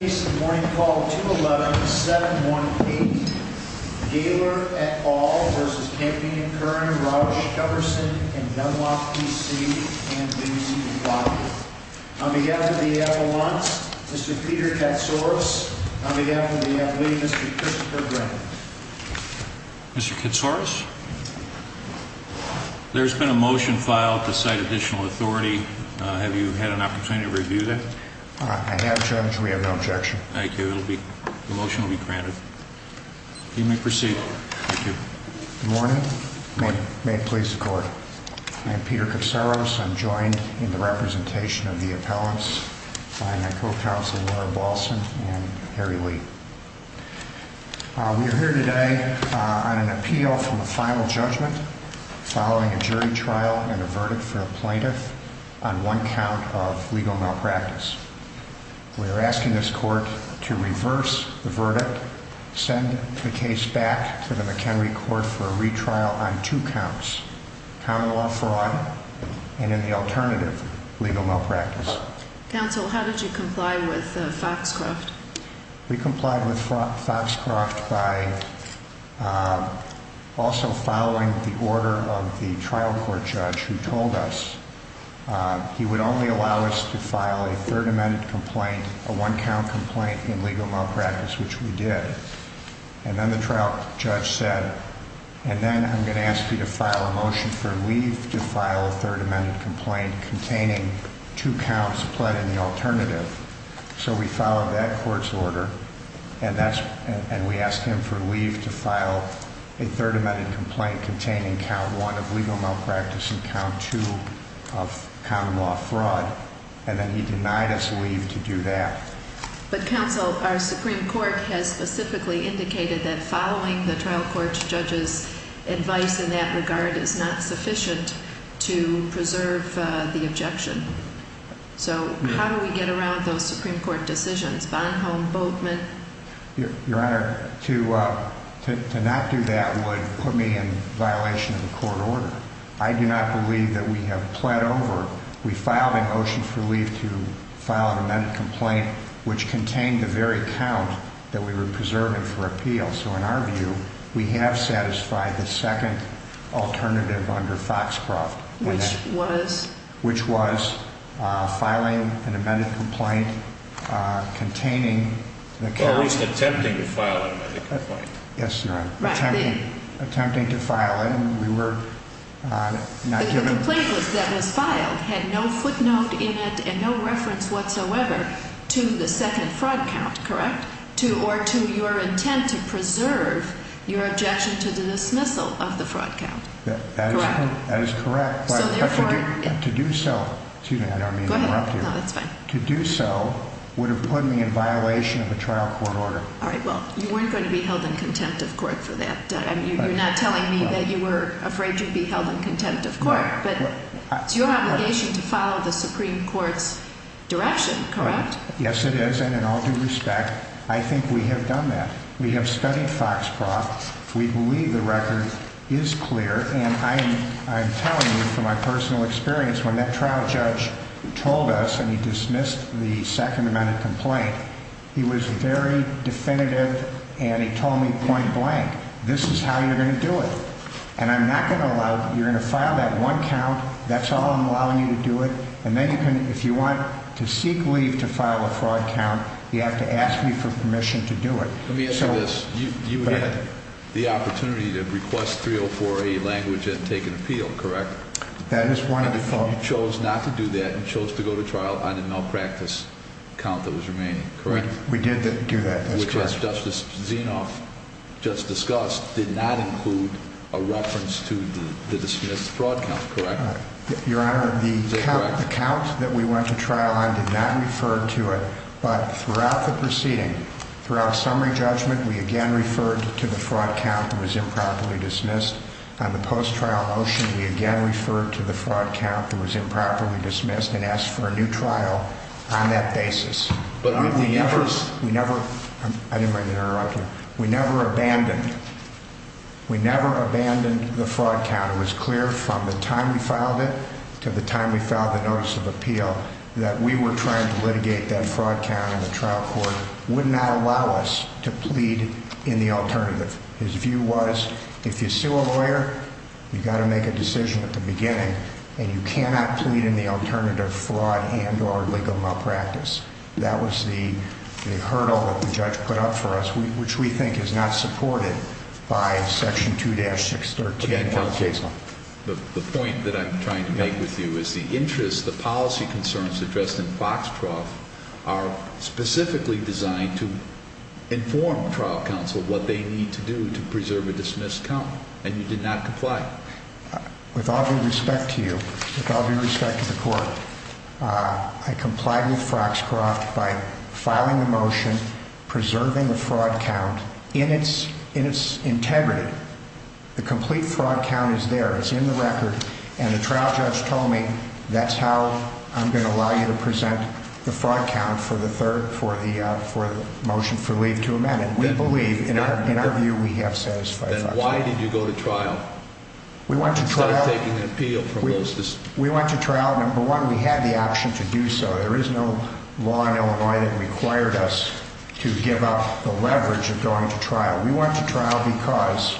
On behalf of the Avalanche, Mr. Peter Katsouris. On behalf of the Athlete, Mr. Christopher Grant. Mr. Katsouris? There's been a motion filed to cite additional authority. Have you had an opportunity to review that? I have, Judge. We have no objection. Thank you. The motion will be granted. You may proceed. Good morning. May it please the Court. I'm Peter Katsouris. I'm joined in the representation of the appellants by my co-counsel Laura Balson and Harry Lee. We are here today on an appeal from a final judgment following a jury trial and a verdict for a plaintiff on one count of legal malpractice. We are asking this Court to reverse the verdict, send the case back to the McHenry Court for a retrial on two counts. Common law fraud and in the alternative, legal malpractice. Counsel, how did you comply with Foxcroft? We complied with Foxcroft by also following the order of the trial court judge who told us he would only allow us to file a third amended complaint, a one count complaint in legal malpractice, which we did. And then the trial judge said, and then I'm going to ask you to file a motion for leave to file a third amended complaint containing two counts, but in the alternative. So we followed that court's order and we asked him for leave to file a third amended complaint containing count one of legal malpractice and count two of common law fraud. And then he denied us leave to do that. But counsel, our Supreme Court has specifically indicated that following the trial court judge's advice in that regard is not sufficient to preserve the objection. So how do we get around those Supreme Court decisions? Bonhomme, Boatman? Your Honor, to not do that would put me in violation of the court order. I do not believe that we have plead over. We filed a motion for leave to file an amended complaint, which contained the very count that we were preserving for appeal. So in our view, we have satisfied the second alternative under Foxcroft. Which was? Which was filing an amended complaint containing. At least attempting to file an amended complaint. Yes, Your Honor. Attempting to file it and we were not given. The complaint that was filed had no footnote in it and no reference whatsoever to the second fraud count. Correct? To or to your intent to preserve your objection to the dismissal of the fraud count. That is correct. So therefore. To do so. Excuse me, I don't mean to interrupt you. Go ahead. No, that's fine. To do so would have put me in violation of a trial court order. All right. Well, you weren't going to be held in contempt of court for that. You're not telling me that you were afraid you'd be held in contempt of court. But it's your obligation to follow the Supreme Court's direction, correct? Yes, it is. And in all due respect, I think we have done that. We have studied Foxcroft. We believe the record is clear. And I'm telling you from my personal experience, when that trial judge told us and he dismissed the second amendment complaint, he was very definitive and he told me point blank, this is how you're going to do it. And I'm not going to allow you're going to file that one count. That's all I'm allowing you to do it. And then if you want to seek leave to file a fraud count, you have to ask me for permission to do it. Let me ask you this. You had the opportunity to request 304A language and take an appeal, correct? That is one of the. You chose not to do that and chose to go to trial on a malpractice count that was remaining, correct? We did do that. Which, as Justice Zinoff just discussed, did not include a reference to the dismissed fraud count, correct? Your Honor, the count that we went to trial on did not refer to it. But throughout the proceeding, throughout summary judgment, we again referred to the fraud count that was improperly dismissed. On the post-trial motion, we again referred to the fraud count that was improperly dismissed and asked for a new trial on that basis. But with the efforts. We never. I didn't mean to interrupt you. We never abandoned. We never abandoned the fraud count. It was clear from the time we filed it to the time we filed the notice of appeal that we were trying to litigate that fraud count. And the trial court would not allow us to plead in the alternative. His view was if you sue a lawyer, you've got to make a decision at the beginning. And you cannot plead in the alternative fraud and or legal malpractice. That was the hurdle that the judge put up for us, which we think is not supported by Section 2-613. The point that I'm trying to make with you is the interest, the policy concerns addressed in Foxtrot are specifically designed to inform trial counsel what they need to do to preserve a dismissed count. And you did not comply. With all due respect to you, with all due respect to the court, I complied with Foxtrot by filing a motion preserving the fraud count in its integrity. The complete fraud count is there. It's in the record. And the trial judge told me that's how I'm going to allow you to present the fraud count for the third for the for the motion for leave to amend. And we believe in our view we have satisfied. Why did you go to trial? We want to try taking an appeal for most. We went to trial. Number one, we had the option to do so. There is no law in Illinois that required us to give up the leverage of going to trial. We went to trial because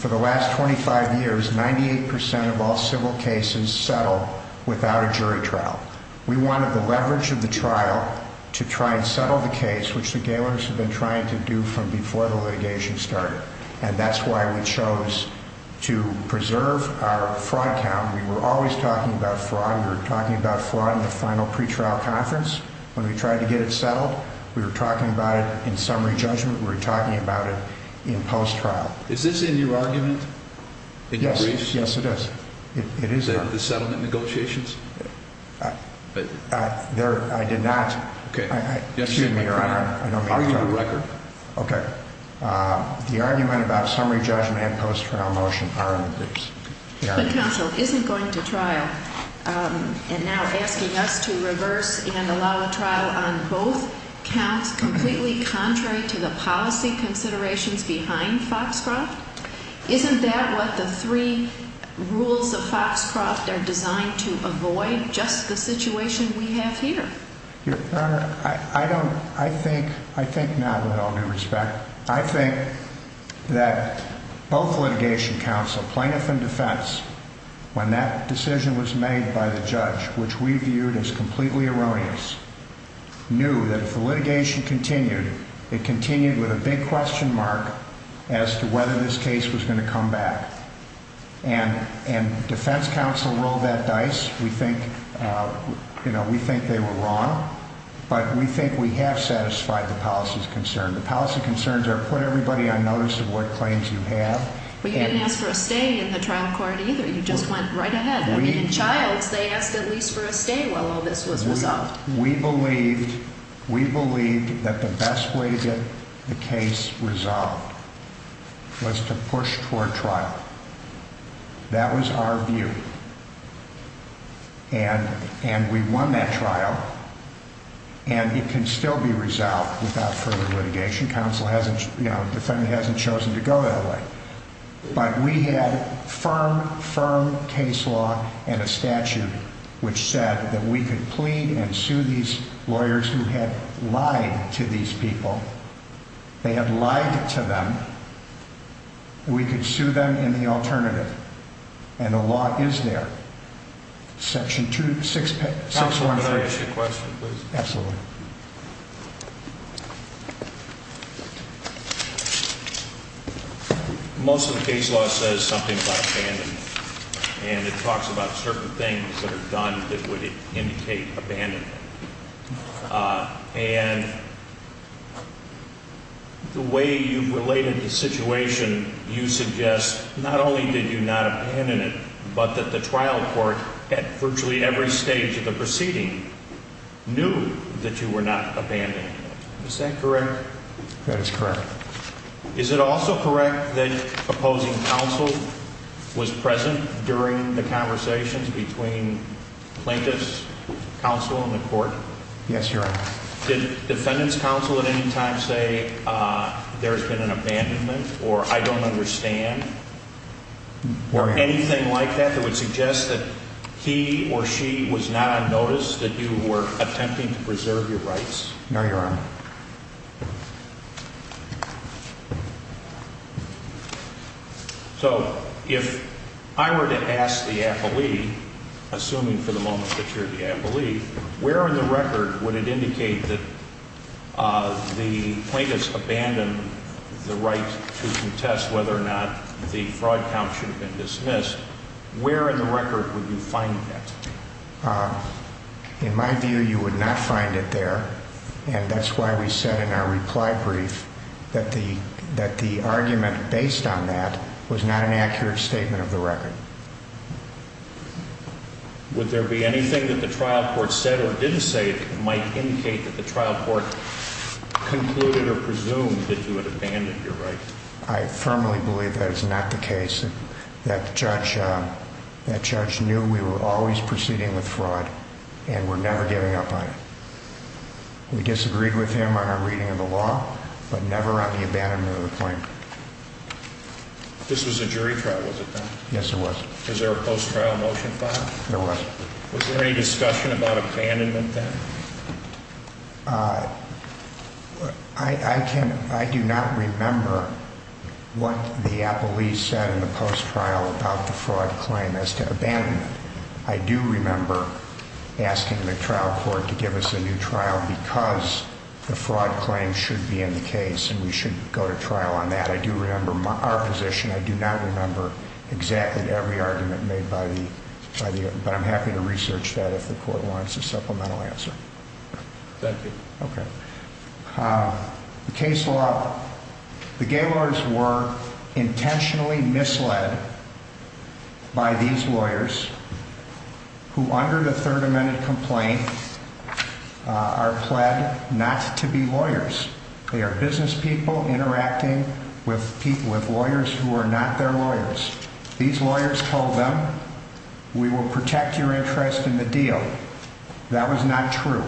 for the last 25 years, 98 percent of all civil cases settle without a jury trial. We wanted the leverage of the trial to try and settle the case, which the Gailors have been trying to do from before the litigation started. And that's why we chose to preserve our fraud count. We were always talking about fraud. We were talking about fraud in the final pretrial conference. When we tried to get it settled, we were talking about it in summary judgment. We were talking about it in post trial. Is this in your argument? Yes. Yes, it is. It is. The settlement negotiations. I did not. OK. Excuse me, Your Honor. I don't mean to interrupt. It's in the record. OK. The argument about summary judgment and post trial motion are in the case. But counsel, isn't going to trial and now asking us to reverse and allow a trial on both counts completely contrary to the policy considerations behind Foxcroft? Isn't that what the three rules of Foxcroft are designed to avoid? Just the situation we have here. Your Honor, I don't. I think. I think now that I'll do respect. I think that both litigation counsel, plaintiff and defense, when that decision was made by the judge, which we viewed as completely erroneous, knew that if the litigation continued, it continued with a big question mark as to whether this case was going to come back. And defense counsel rolled that dice. We think, you know, we think they were wrong. But we think we have satisfied the policy's concern. The policy concerns are put everybody on notice of what claims you have. But you didn't ask for a stay in the trial court either. You just went right ahead. I mean, in Childs, they asked at least for a stay while all this was resolved. We believed we believed that the best way to get the case resolved was to push for trial. That was our view. And and we won that trial. And it can still be resolved without further litigation. You know, the defendant hasn't chosen to go that way. But we had firm, firm case law and a statute which said that we could plead and sue these lawyers who had lied to these people. They had lied to them. We could sue them in the alternative. And the law is there. Section 2, 6, 6, 1, 3. Can I ask you a question, please? Absolutely. Most of the case law says something about abandonment. And it talks about certain things that are done that would indicate abandonment. And the way you've related the situation, you suggest not only did you not abandon it, but that the trial court at virtually every stage of the proceeding knew that you were not abandoned. Is that correct? That is correct. Is it also correct that opposing counsel was present during the conversations between plaintiffs, counsel and the court? Yes, Your Honor. Did defendant's counsel at any time say there's been an abandonment or I don't understand? Or anything like that that would suggest that he or she was not on notice that you were attempting to preserve your rights? No, Your Honor. So if I were to ask the appellee, assuming for the moment that you're the appellee, where in the record would it indicate that the plaintiffs abandoned the right to contest whether or not the fraud count should have been dismissed? Where in the record would you find that? In my view, you would not find it there. And that's why we said in our reply brief that the argument based on that was not an accurate statement of the record. Would there be anything that the trial court said or didn't say that might indicate that the trial court concluded or presumed that you had abandoned your rights? I firmly believe that is not the case. That judge knew we were always proceeding with fraud and were never giving up on it. We disagreed with him on our reading of the law, but never on the abandonment of the claim. This was a jury trial, was it not? Yes, it was. Was there a post-trial motion filed? There was. Was there any discussion about abandonment then? I do not remember what the appellee said in the post-trial about the fraud claim as to abandonment. I do remember asking the trial court to give us a new trial because the fraud claim should be in the case and we should go to trial on that. I do remember our position. I do not remember exactly every argument made, but I'm happy to research that if the court wants a supplemental answer. Thank you. Okay. The case law, the Gaylords were intentionally misled by these lawyers who, under the Third Amendment complaint, are pled not to be lawyers. They are business people interacting with people, with lawyers who are not their lawyers. These lawyers told them, we will protect your interest in the deal. That was not true.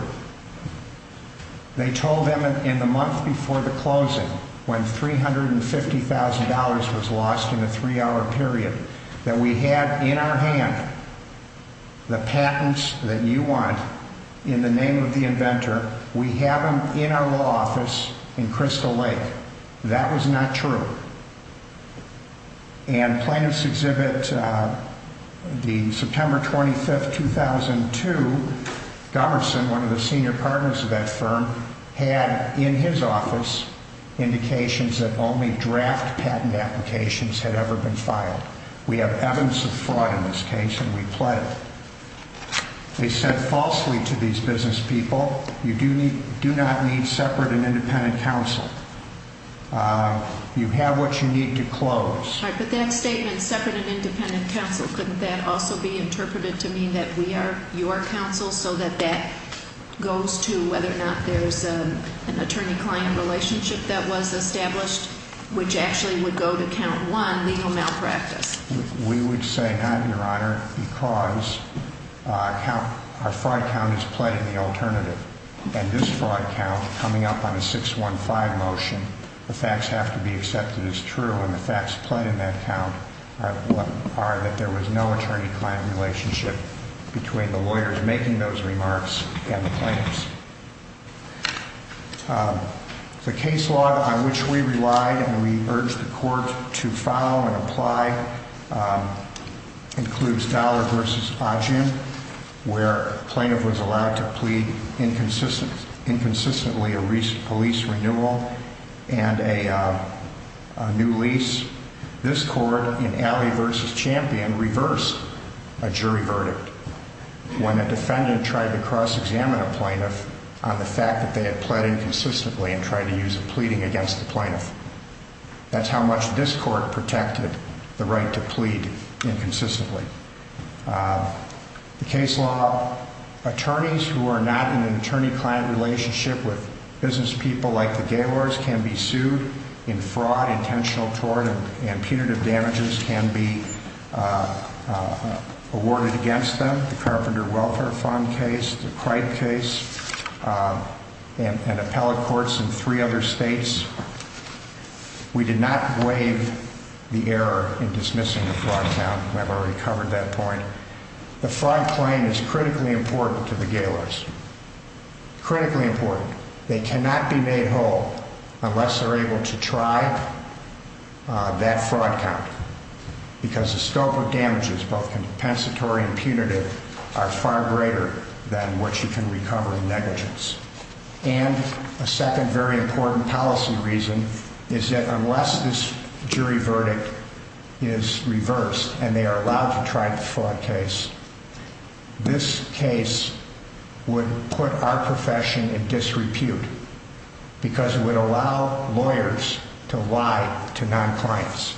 They told them in the month before the closing, when $350,000 was lost in a three-hour period, that we had in our hand the patents that you want in the name of the inventor. We have them in our law office in Crystal Lake. That was not true. And Plaintiffs' Exhibit, the September 25, 2002, Gomerson, one of the senior partners of that firm, had in his office indications that only draft patent applications had ever been filed. We have evidence of fraud in this case and we pled it. They said falsely to these business people, you do not need separate and independent counsel. You have what you need to close. Right, but that statement, separate and independent counsel, couldn't that also be interpreted to mean that we are your counsel so that that goes to whether or not there's an attorney-client relationship that was established, which actually would go to count one, legal malpractice? We would say no, Your Honor, because our fraud count is pled in the alternative. And this fraud count, coming up on a 615 motion, the facts have to be accepted as true. And the facts pled in that count are that there was no attorney-client relationship between the lawyers making those remarks and the plaintiffs. The case law on which we relied and we urged the court to file and apply includes Dollar v. Ogden, where a plaintiff was allowed to plead inconsistently a police renewal and a new lease. This court in Alley v. Champion reversed a jury verdict. When a defendant tried to cross-examine a plaintiff on the fact that they had pled inconsistently and tried to use a pleading against the plaintiff. That's how much this court protected the right to plead inconsistently. The case law attorneys who are not in an attorney-client relationship with business people like the Gaylords can be sued in fraud, intentional tort, and punitive damages can be awarded against them. The Carpenter Welfare Fund case, the Cripe case, and appellate courts in three other states. We did not waive the error in dismissing the fraud count. I've already covered that point. The fraud claim is critically important to the Gaylords. Critically important. They cannot be made whole unless they're able to try that fraud count. Because the scope of damages, both compensatory and punitive, are far greater than what you can recover in negligence. And a second very important policy reason is that unless this jury verdict is reversed and they are allowed to try the fraud case, this case would put our profession in disrepute. Because it would allow lawyers to lie to non-clients.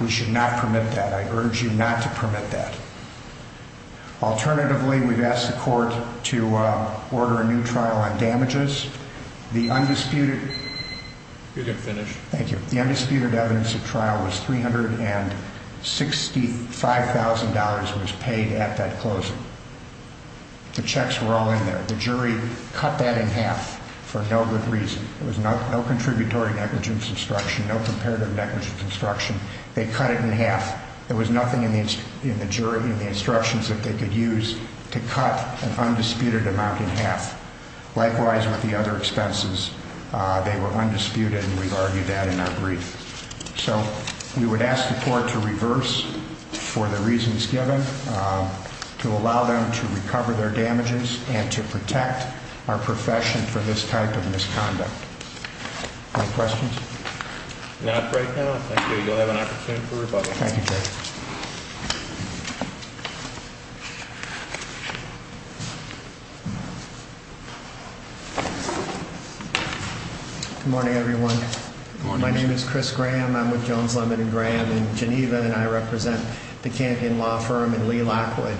We should not permit that. I urge you not to permit that. Alternatively, we've asked the court to order a new trial on damages. The undisputed... You can finish. Thank you. The undisputed evidence of trial was $365,000 was paid at that closing. The checks were all in there. The jury cut that in half for no good reason. There was no contributory negligence instruction, no comparative negligence instruction. They cut it in half. There was nothing in the instructions that they could use to cut an undisputed amount in half. Likewise with the other expenses, they were undisputed, and we've argued that in our brief. So we would ask the court to reverse for the reasons given, to allow them to recover their damages, and to protect our profession from this type of misconduct. Any questions? Not right now. Thank you. You'll have an opportunity for rebuttal. Thank you, Judge. Good morning, everyone. Good morning, Judge. My name is Chris Graham. I'm with Jones Lemon & Graham in Geneva, and I represent the Canadian law firm in Lee Lockwood.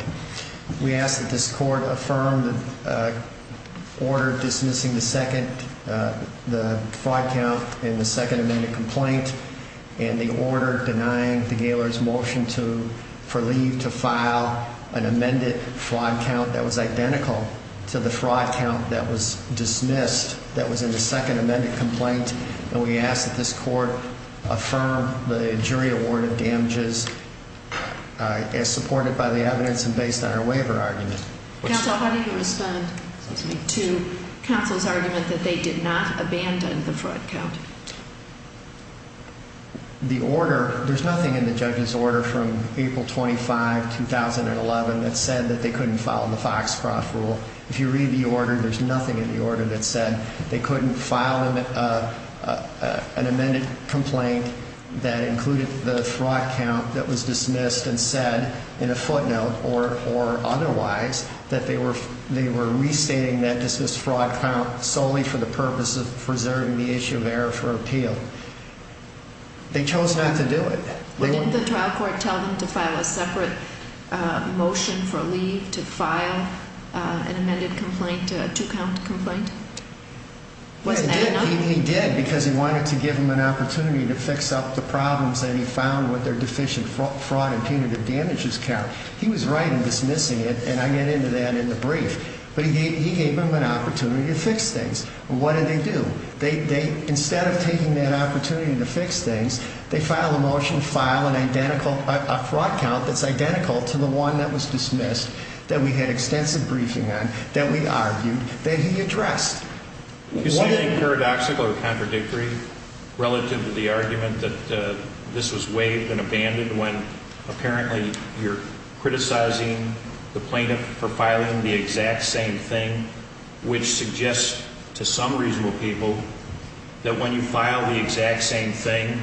We ask that this court affirm the order dismissing the fraud count in the second amended complaint, and the order denying the gaoler's motion for leave to file an amended fraud count that was identical to the fraud count that was dismissed, that was in the second amended complaint. And we ask that this court affirm the jury award of damages as supported by the evidence and based on our waiver argument. Counsel, how do you respond to counsel's argument that they did not abandon the fraud count? The order, there's nothing in the judge's order from April 25, 2011, that said that they couldn't follow the Foxcroft rule. If you read the order, there's nothing in the order that said they couldn't file an amended complaint that included the fraud count that was dismissed and said in a footnote or otherwise that they were restating that dismissed fraud count solely for the purpose of preserving the issue of error for appeal. They chose not to do it. But didn't the trial court tell them to file a separate motion for leave to file an amended complaint, a two-count complaint? He did because he wanted to give them an opportunity to fix up the problems that he found with their deficient fraud and punitive damages count. He was right in dismissing it, and I get into that in the brief. But he gave them an opportunity to fix things. What did they do? They, instead of taking that opportunity to fix things, they filed a motion to file an identical, a fraud count that's identical to the one that was dismissed that we had extensive briefing on, that we argued, that he addressed. Is he being paradoxical or contradictory relative to the argument that this was waived and abandoned when apparently you're criticizing the plaintiff for filing the exact same thing, which suggests to some reasonable people that when you file the exact same thing,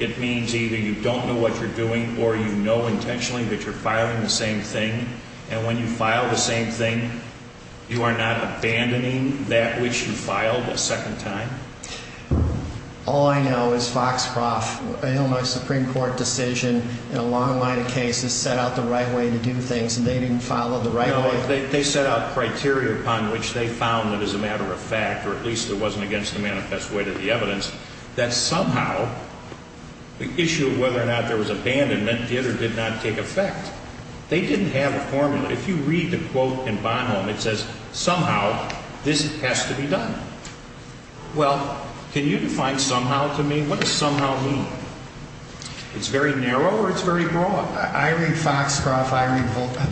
it means either you don't know what you're doing or you know intentionally that you're filing the same thing, and when you file the same thing, you are not abandoning that which you filed a second time? All I know is, Foxcroft, I know my Supreme Court decision in a long line of cases set out the right way to do things, and they didn't follow the right way. No, they set out criteria upon which they found that as a matter of fact, or at least it wasn't against the manifest way to the evidence, that somehow the issue of whether or not there was abandonment did or did not take effect. They didn't have a formula. If you read the quote in Bonholm, it says, somehow this has to be done. Well, can you define somehow to me? What does somehow mean? It's very narrow or it's very broad? I read Foxcroft, I read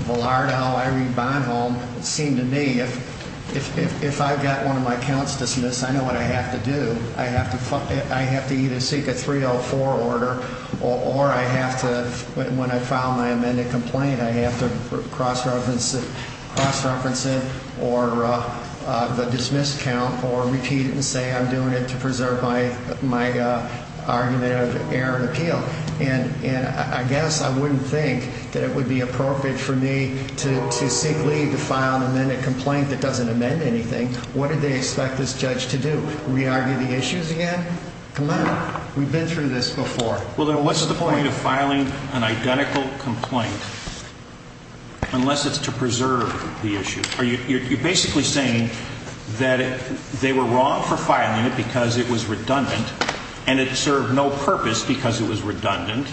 Vallardo, I read Bonholm. It seemed to me if I've got one of my counts dismissed, I know what I have to do. I have to either seek a 304 order or I have to, when I file my amended complaint, I have to cross-reference it or the dismissed count or repeat it and say I'm doing it to preserve my argument of error and appeal. And I guess I wouldn't think that it would be appropriate for me to seek leave to file an amended complaint that doesn't amend anything. What did they expect this judge to do? Re-argue the issues again? Come on. We've been through this before. Well, then what's the point of filing an identical complaint unless it's to preserve the issue? You're basically saying that they were wrong for filing it because it was redundant and it served no purpose because it was redundant.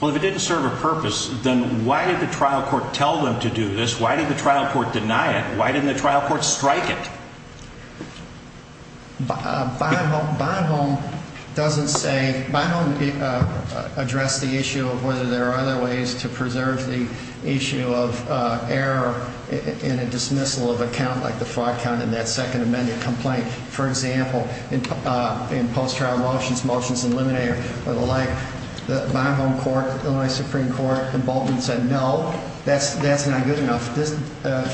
Well, if it didn't serve a purpose, then why did the trial court tell them to do this? Why did the trial court deny it? Why didn't the trial court strike it? Bonhomme doesn't say, Bonhomme addressed the issue of whether there are other ways to preserve the issue of error in a dismissal of a count like the fraud count in that second amended complaint. For example, in post-trial motions, motions in limine or the like, the Bonhomme court, Illinois Supreme Court, in Bolton said no, that's not good enough.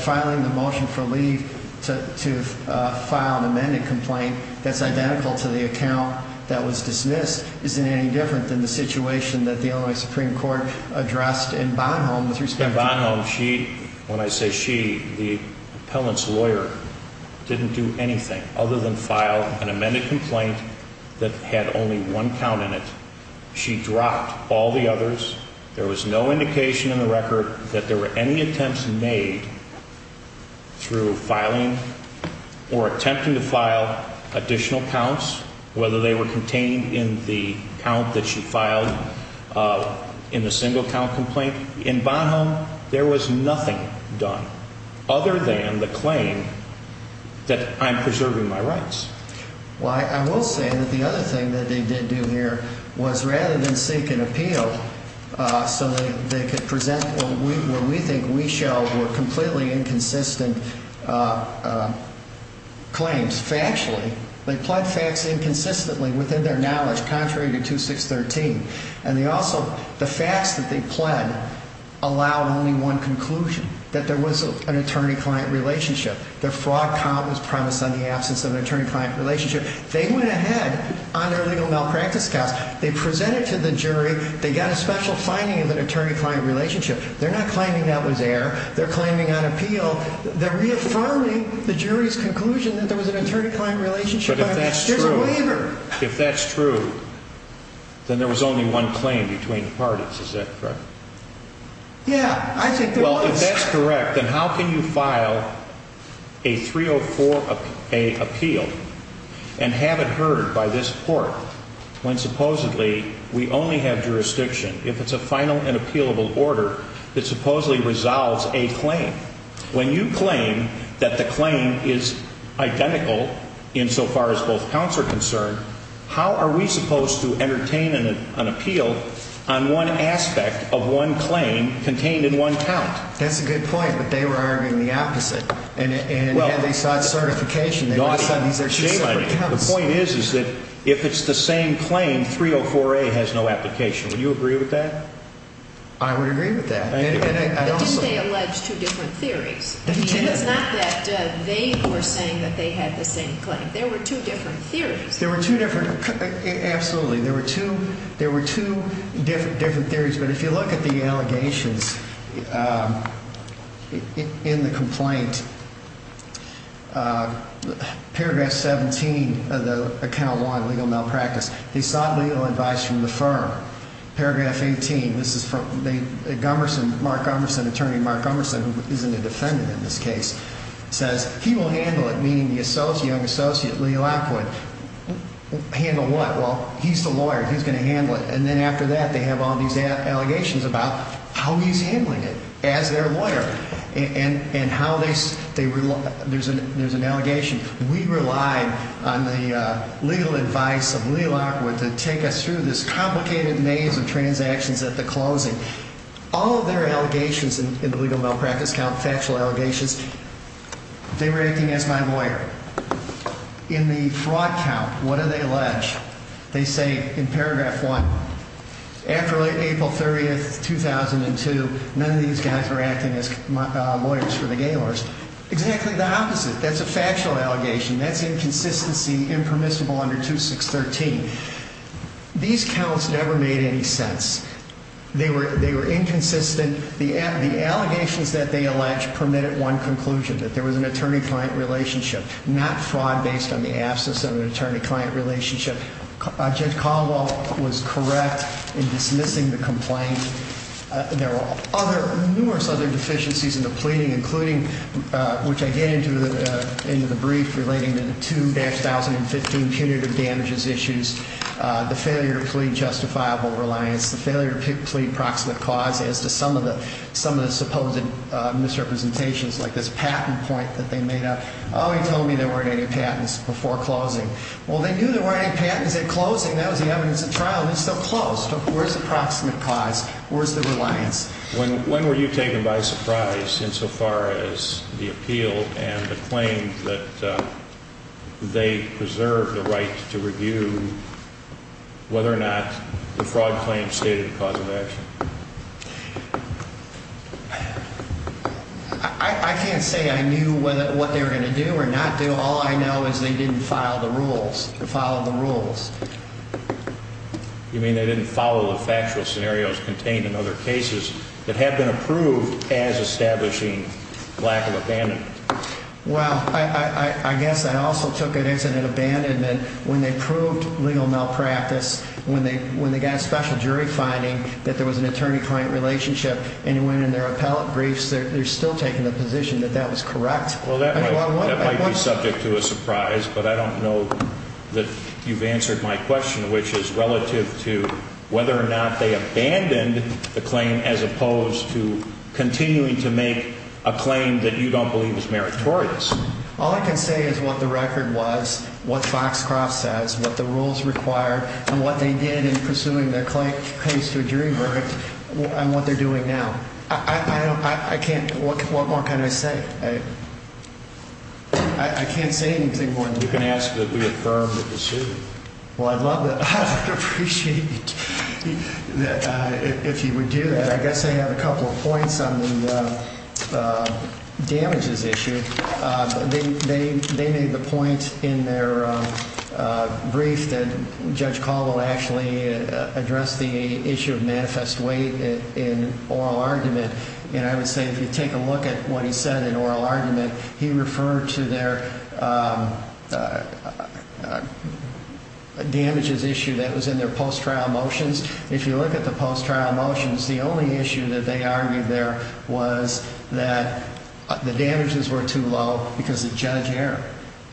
Filing a motion for leave to file an amended complaint that's identical to the account that was dismissed isn't any different than the situation that the Illinois Supreme Court addressed in Bonhomme with respect to that. In Bonhomme, when I say she, the appellant's lawyer didn't do anything other than file an amended complaint that had only one count in it. She dropped all the others. There was no indication in the record that there were any attempts made through filing or attempting to file additional counts, whether they were contained in the count that she filed in the single count complaint. In Bonhomme, there was nothing done other than the claim that I'm preserving my rights. Well, I will say that the other thing that they did do here was rather than seek an appeal so that they could present what we think we show were completely inconsistent claims factually, they pled facts inconsistently within their knowledge, contrary to 2613. The facts that they pled allowed only one conclusion, that there was an attorney-client relationship. The fraud count was promised on the absence of an attorney-client relationship. They went ahead on their legal malpractice counts. They presented to the jury. They got a special finding of an attorney-client relationship. They're not claiming that was there. They're claiming on appeal. They're reaffirming the jury's conclusion that there was an attorney-client relationship, but there's a waiver. If that's true, then there was only one claim between the parties. Is that correct? Yeah, I think there was. Well, if that's correct, then how can you file a 304A appeal and have it heard by this court when supposedly we only have jurisdiction? If it's a final and appealable order, it supposedly resolves a claim. When you claim that the claim is identical insofar as both counts are concerned, how are we supposed to entertain an appeal on one aspect of one claim contained in one count? That's a good point, but they were arguing the opposite. And had they sought certification, they would have said these are two separate counts. The point is that if it's the same claim, 304A has no application. Would you agree with that? I would agree with that. But didn't they allege two different theories? It's not that they were saying that they had the same claim. There were two different theories. There were two different – absolutely. There were two different theories. But if you look at the allegations in the complaint, paragraph 17 of the Account 1, Legal Malpractice, they sought legal advice from the firm. Paragraph 18, this is from Mark Umerson, attorney Mark Umerson, who isn't a defendant in this case, says he will handle it, meaning the young associate, Lee Lockwood. Handle what? Well, he's the lawyer. He's going to handle it. And then after that, they have all these allegations about how he's handling it as their lawyer and how they – there's an allegation. We relied on the legal advice of Lee Lockwood to take us through this complicated maze of transactions at the closing. All of their allegations in the Legal Malpractice count, factual allegations, they were acting as my lawyer. In the fraud count, what do they allege? They say in paragraph 1, after April 30, 2002, none of these guys were acting as lawyers for the Gaylords. Exactly the opposite. That's a factual allegation. That's inconsistency impermissible under 2613. These counts never made any sense. They were inconsistent. The allegations that they allege permitted one conclusion, that there was an attorney-client relationship, not fraud based on the absence of an attorney-client relationship. Judge Caldwell was correct in dismissing the complaint. There were numerous other deficiencies in the pleading, including, which I get into in the brief, relating to the 2015 punitive damages issues, the failure to plead justifiable reliance, the failure to plead proximate cause as to some of the supposed misrepresentations like this patent point that they made up. Oh, he told me there weren't any patents before closing. Well, they knew there weren't any patents at closing. That was the evidence at trial, and it's still closed. Where's the proximate cause? Where's the reliance? When were you taken by surprise insofar as the appeal and the claim that they preserved the right to review whether or not the fraud claim stated the cause of action? I can't say I knew what they were going to do or not do. All I know is they didn't follow the rules. You mean they didn't follow the factual scenarios contained in other cases that have been approved as establishing lack of abandonment? Well, I guess I also took it as an abandonment. When they proved legal malpractice, when they got a special jury finding that there was an attorney-client relationship and it went in their appellate briefs, they're still taking the position that that was correct. Well, that might be subject to a surprise, but I don't know that you've answered my question, which is relative to whether or not they abandoned the claim as opposed to continuing to make a claim that you don't believe is meritorious. All I can say is what the record was, what Foxcroft says, what the rules require, and what they did in pursuing their case to a jury verdict, and what they're doing now. What more can I say? I can't say anything more than that. You can ask that we affirm the decision. Well, I'd love to. I'd appreciate it if you would do that. I guess I have a couple of points on the damages issue. They made the point in their brief that Judge Caldwell actually addressed the issue of manifest weight in oral argument. And I would say if you take a look at what he said in oral argument, he referred to their damages issue that was in their post-trial motions. If you look at the post-trial motions, the only issue that they argued there was that the damages were too low because of Judge Ayer.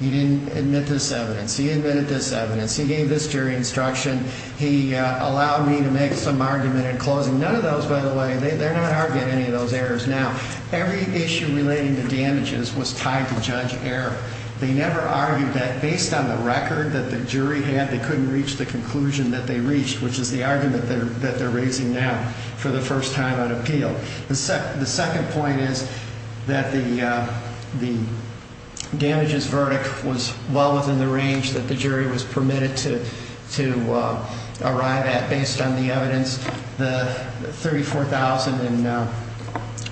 He didn't admit this evidence. He admitted this evidence. He gave this jury instruction. He allowed me to make some argument in closing. None of those, by the way, they're not arguing any of those errors now. Every issue relating to damages was tied to Judge Ayer. They never argued that based on the record that the jury had, they couldn't reach the conclusion that they reached, which is the argument that they're raising now for the first time on appeal. The second point is that the damages verdict was well within the range that the jury was permitted to arrive at based on the evidence. The $34,000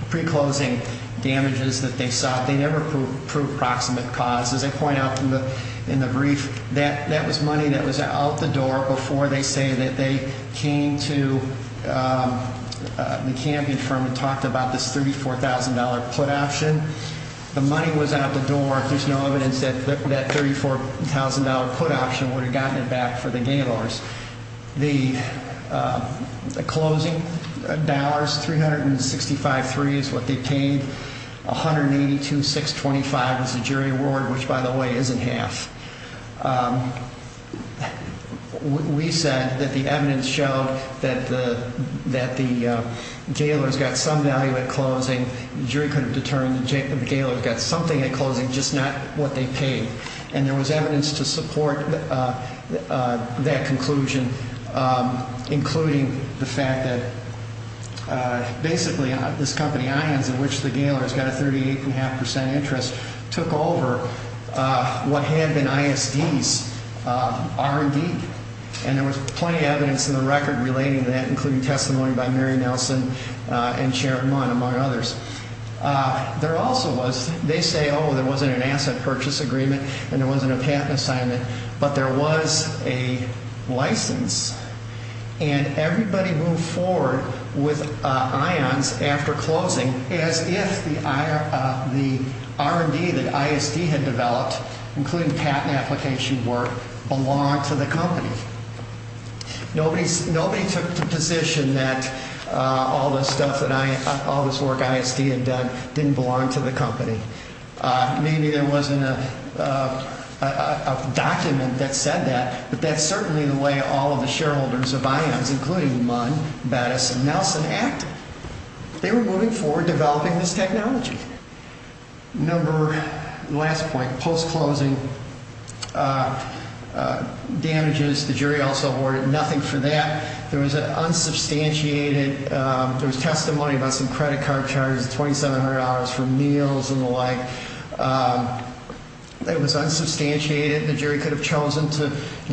in pre-closing damages that they sought, they never proved proximate cause. As I point out in the brief, that was money that was out the door before they say that they came to the Kampion firm and talked about this $34,000 put option. The money was out the door. There's no evidence that that $34,000 put option would have gotten it back for the Gaylords. The closing dollars, 365.3 is what they paid. 182.625 is the jury award, which by the way is in half. We said that the evidence showed that the Gaylords got some value at closing. The jury could have determined that the Gaylords got something at closing, just not what they paid. And there was evidence to support that conclusion, including the fact that basically this company INs, in which the Gaylords got a 38.5% interest, took over what had been ISDs, R&D. And there was plenty of evidence in the record relating to that, including testimony by Mary Nelson and Sharon Munn, among others. There also was, they say, oh, there wasn't an asset purchase agreement and there wasn't a patent assignment, but there was a license. And everybody moved forward with INs after closing as if the R&D that ISD had developed, including patent application work, belonged to the company. Nobody took the position that all this work ISD had done didn't belong to the company. Maybe there wasn't a document that said that, but that's certainly the way all of the shareholders of INs, including Munn, Battis, and Nelson, acted. They were moving forward developing this technology. Number, last point, post-closing damages, the jury also awarded nothing for that. There was unsubstantiated, there was testimony about some credit card charges, $2,700 for meals and the like. It was unsubstantiated. The jury could have chosen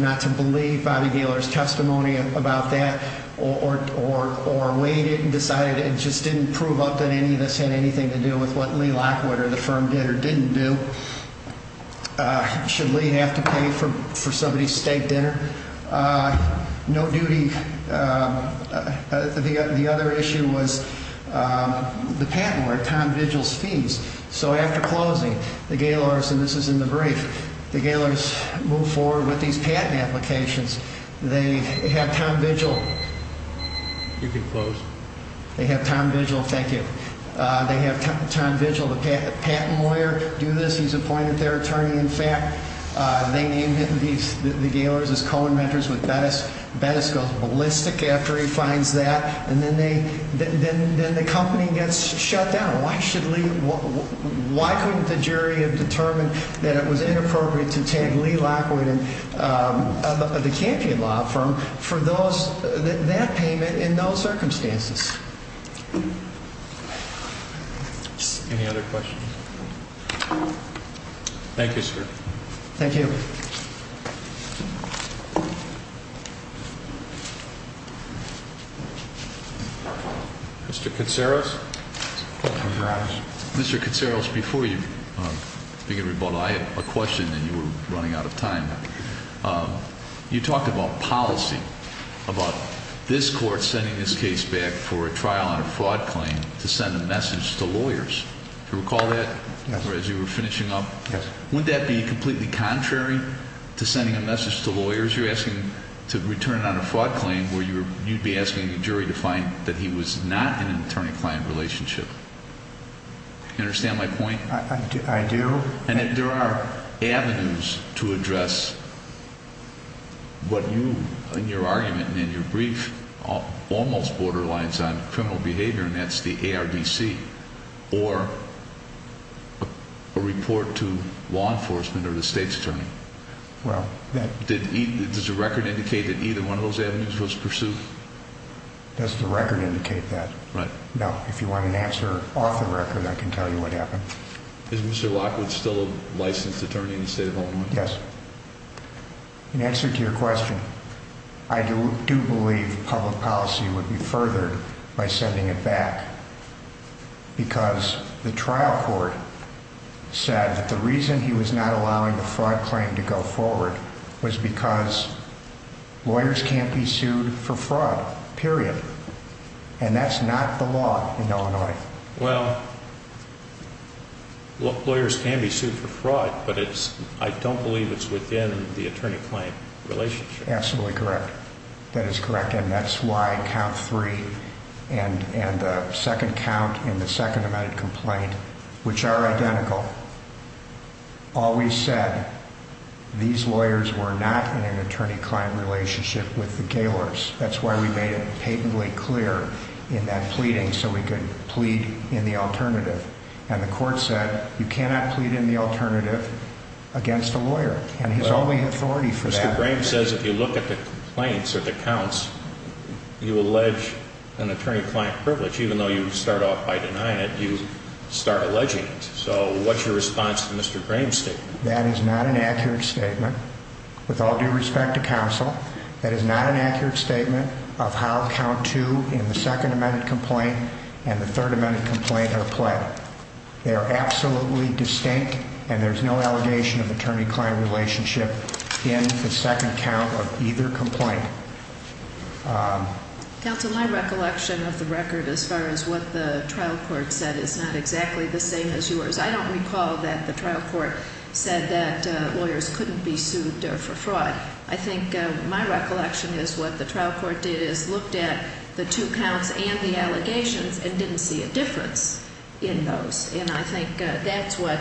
not to believe Bobby Gaylor's testimony about that or weighed it and decided it just didn't prove up that any of this had anything to do with what Lee Lockwood or the firm did or didn't do. Should Lee have to pay for somebody's steak dinner? No duty. The other issue was the patent, or Tom Vigil's fees. So after closing, the Gaylors, and this is in the brief, the Gaylors move forward with these patent applications. They have Tom Vigil, thank you. They have Tom Vigil, the patent lawyer, do this, he's appointed their attorney. In fact, they named the Gaylors as co-inventors with Battis. Battis goes ballistic after he finds that, and then the company gets shut down. Why shouldn't Lee, why couldn't the jury have determined that it was inappropriate to tag Lee Lockwood and the Campion Law Firm for that payment in those circumstances? Any other questions? Thank you, sir. Thank you. Mr. Katsaros. Mr. Katsaros, before you begin rebuttal, I have a question that you were running out of time. You talked about policy, about this court sending this case back for a trial on a fraud claim to send a message to lawyers. Do you recall that? Yes. As you were finishing up? Yes. Wouldn't that be completely contrary to sending a message to lawyers? You're asking to return it on a fraud claim where you'd be asking the jury to find that he was not in an attorney-client relationship. Do you understand my point? I do. And if there are avenues to address what you, in your argument and in your brief, almost borderlines on criminal behavior, and that's the ARDC or a report to law enforcement or the state's attorney, does the record indicate that either one of those avenues was pursued? Does the record indicate that? Right. Now, if you want an answer off the record, I can tell you what happened. Is Mr. Lockwood still a licensed attorney in the state of Illinois? Yes. In answer to your question, I do believe public policy would be furthered by sending it back because the trial court said that the reason he was not allowing the fraud claim to go forward was because lawyers can't be sued for fraud, period. And that's not the law in Illinois. Well, lawyers can be sued for fraud, but I don't believe it's within the attorney-client relationship. Absolutely correct. That is correct. And that's why count three and the second count in the second amended complaint, which are identical, always said these lawyers were not in an attorney-client relationship with the gaolers. That's why we made it patently clear in that pleading so we could plead in the alternative. And the court said you cannot plead in the alternative against a lawyer, and he's only authority for that. Mr. Graham says if you look at the complaints or the counts, you allege an attorney-client privilege, even though you start off by denying it, you start alleging it. So what's your response to Mr. Graham's statement? That is not an accurate statement. With all due respect to counsel, that is not an accurate statement of how count two in the second amended complaint and the third amended complaint are pled. They are absolutely distinct, and there's no allegation of attorney-client relationship in the second count of either complaint. Counsel, my recollection of the record as far as what the trial court said is not exactly the same as yours. I don't recall that the trial court said that lawyers couldn't be sued for fraud. I think my recollection is what the trial court did is looked at the two counts and the allegations and didn't see a difference in those. And I think that's what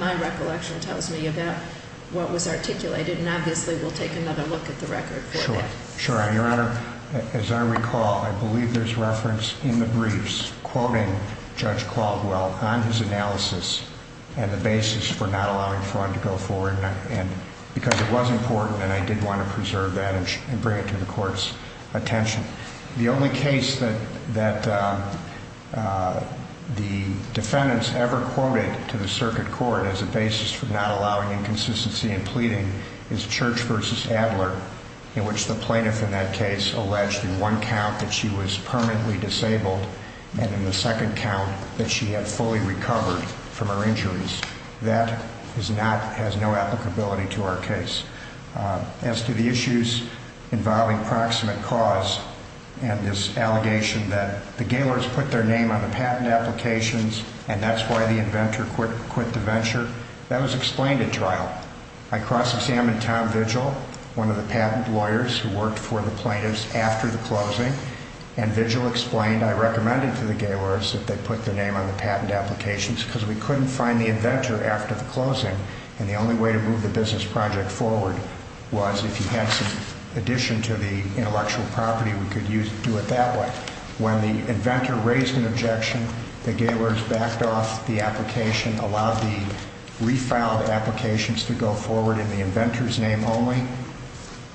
my recollection tells me about what was articulated, and obviously we'll take another look at the record for that. Your Honor, as I recall, I believe there's reference in the briefs quoting Judge Caldwell on his analysis and the basis for not allowing fraud to go forward, because it was important and I did want to preserve that and bring it to the court's attention. The only case that the defendants ever quoted to the circuit court as a basis for not allowing inconsistency in pleading is Church v. Adler, in which the plaintiff in that case alleged in one count that she was permanently disabled and in the second count that she had fully recovered from her injuries. That has no applicability to our case. As to the issues involving proximate cause and this allegation that the Gaylors put their name on the patent applications and that's why the inventor quit the venture, that was explained at trial. I cross-examined Tom Vigil, one of the patent lawyers who worked for the plaintiffs after the closing, and Vigil explained I recommended to the Gaylors that they put their name on the patent applications because we couldn't find the inventor after the closing and the only way to move the business project forward was if you had some addition to the intellectual property, we could do it that way. When the inventor raised an objection, the Gaylors backed off the application, allowed the refiled applications to go forward in the inventor's name only,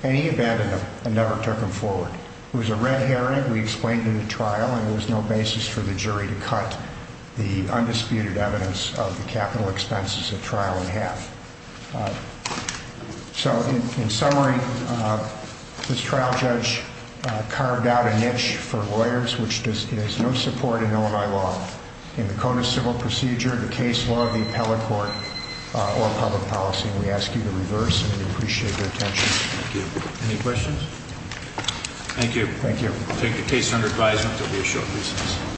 and he abandoned them and never took them forward. It was a red herring, we explained in the trial, and there was no basis for the jury to cut the undisputed evidence of the capital expenses at trial in half. So, in summary, this trial judge carved out a niche for lawyers which is no support in Illinois law. In the Code of Civil Procedure, the case law, the appellate court, or public policy, we ask you to reverse and we appreciate your attention. Any questions? Thank you. Thank you. Take the case under advisement. There will be a short recess.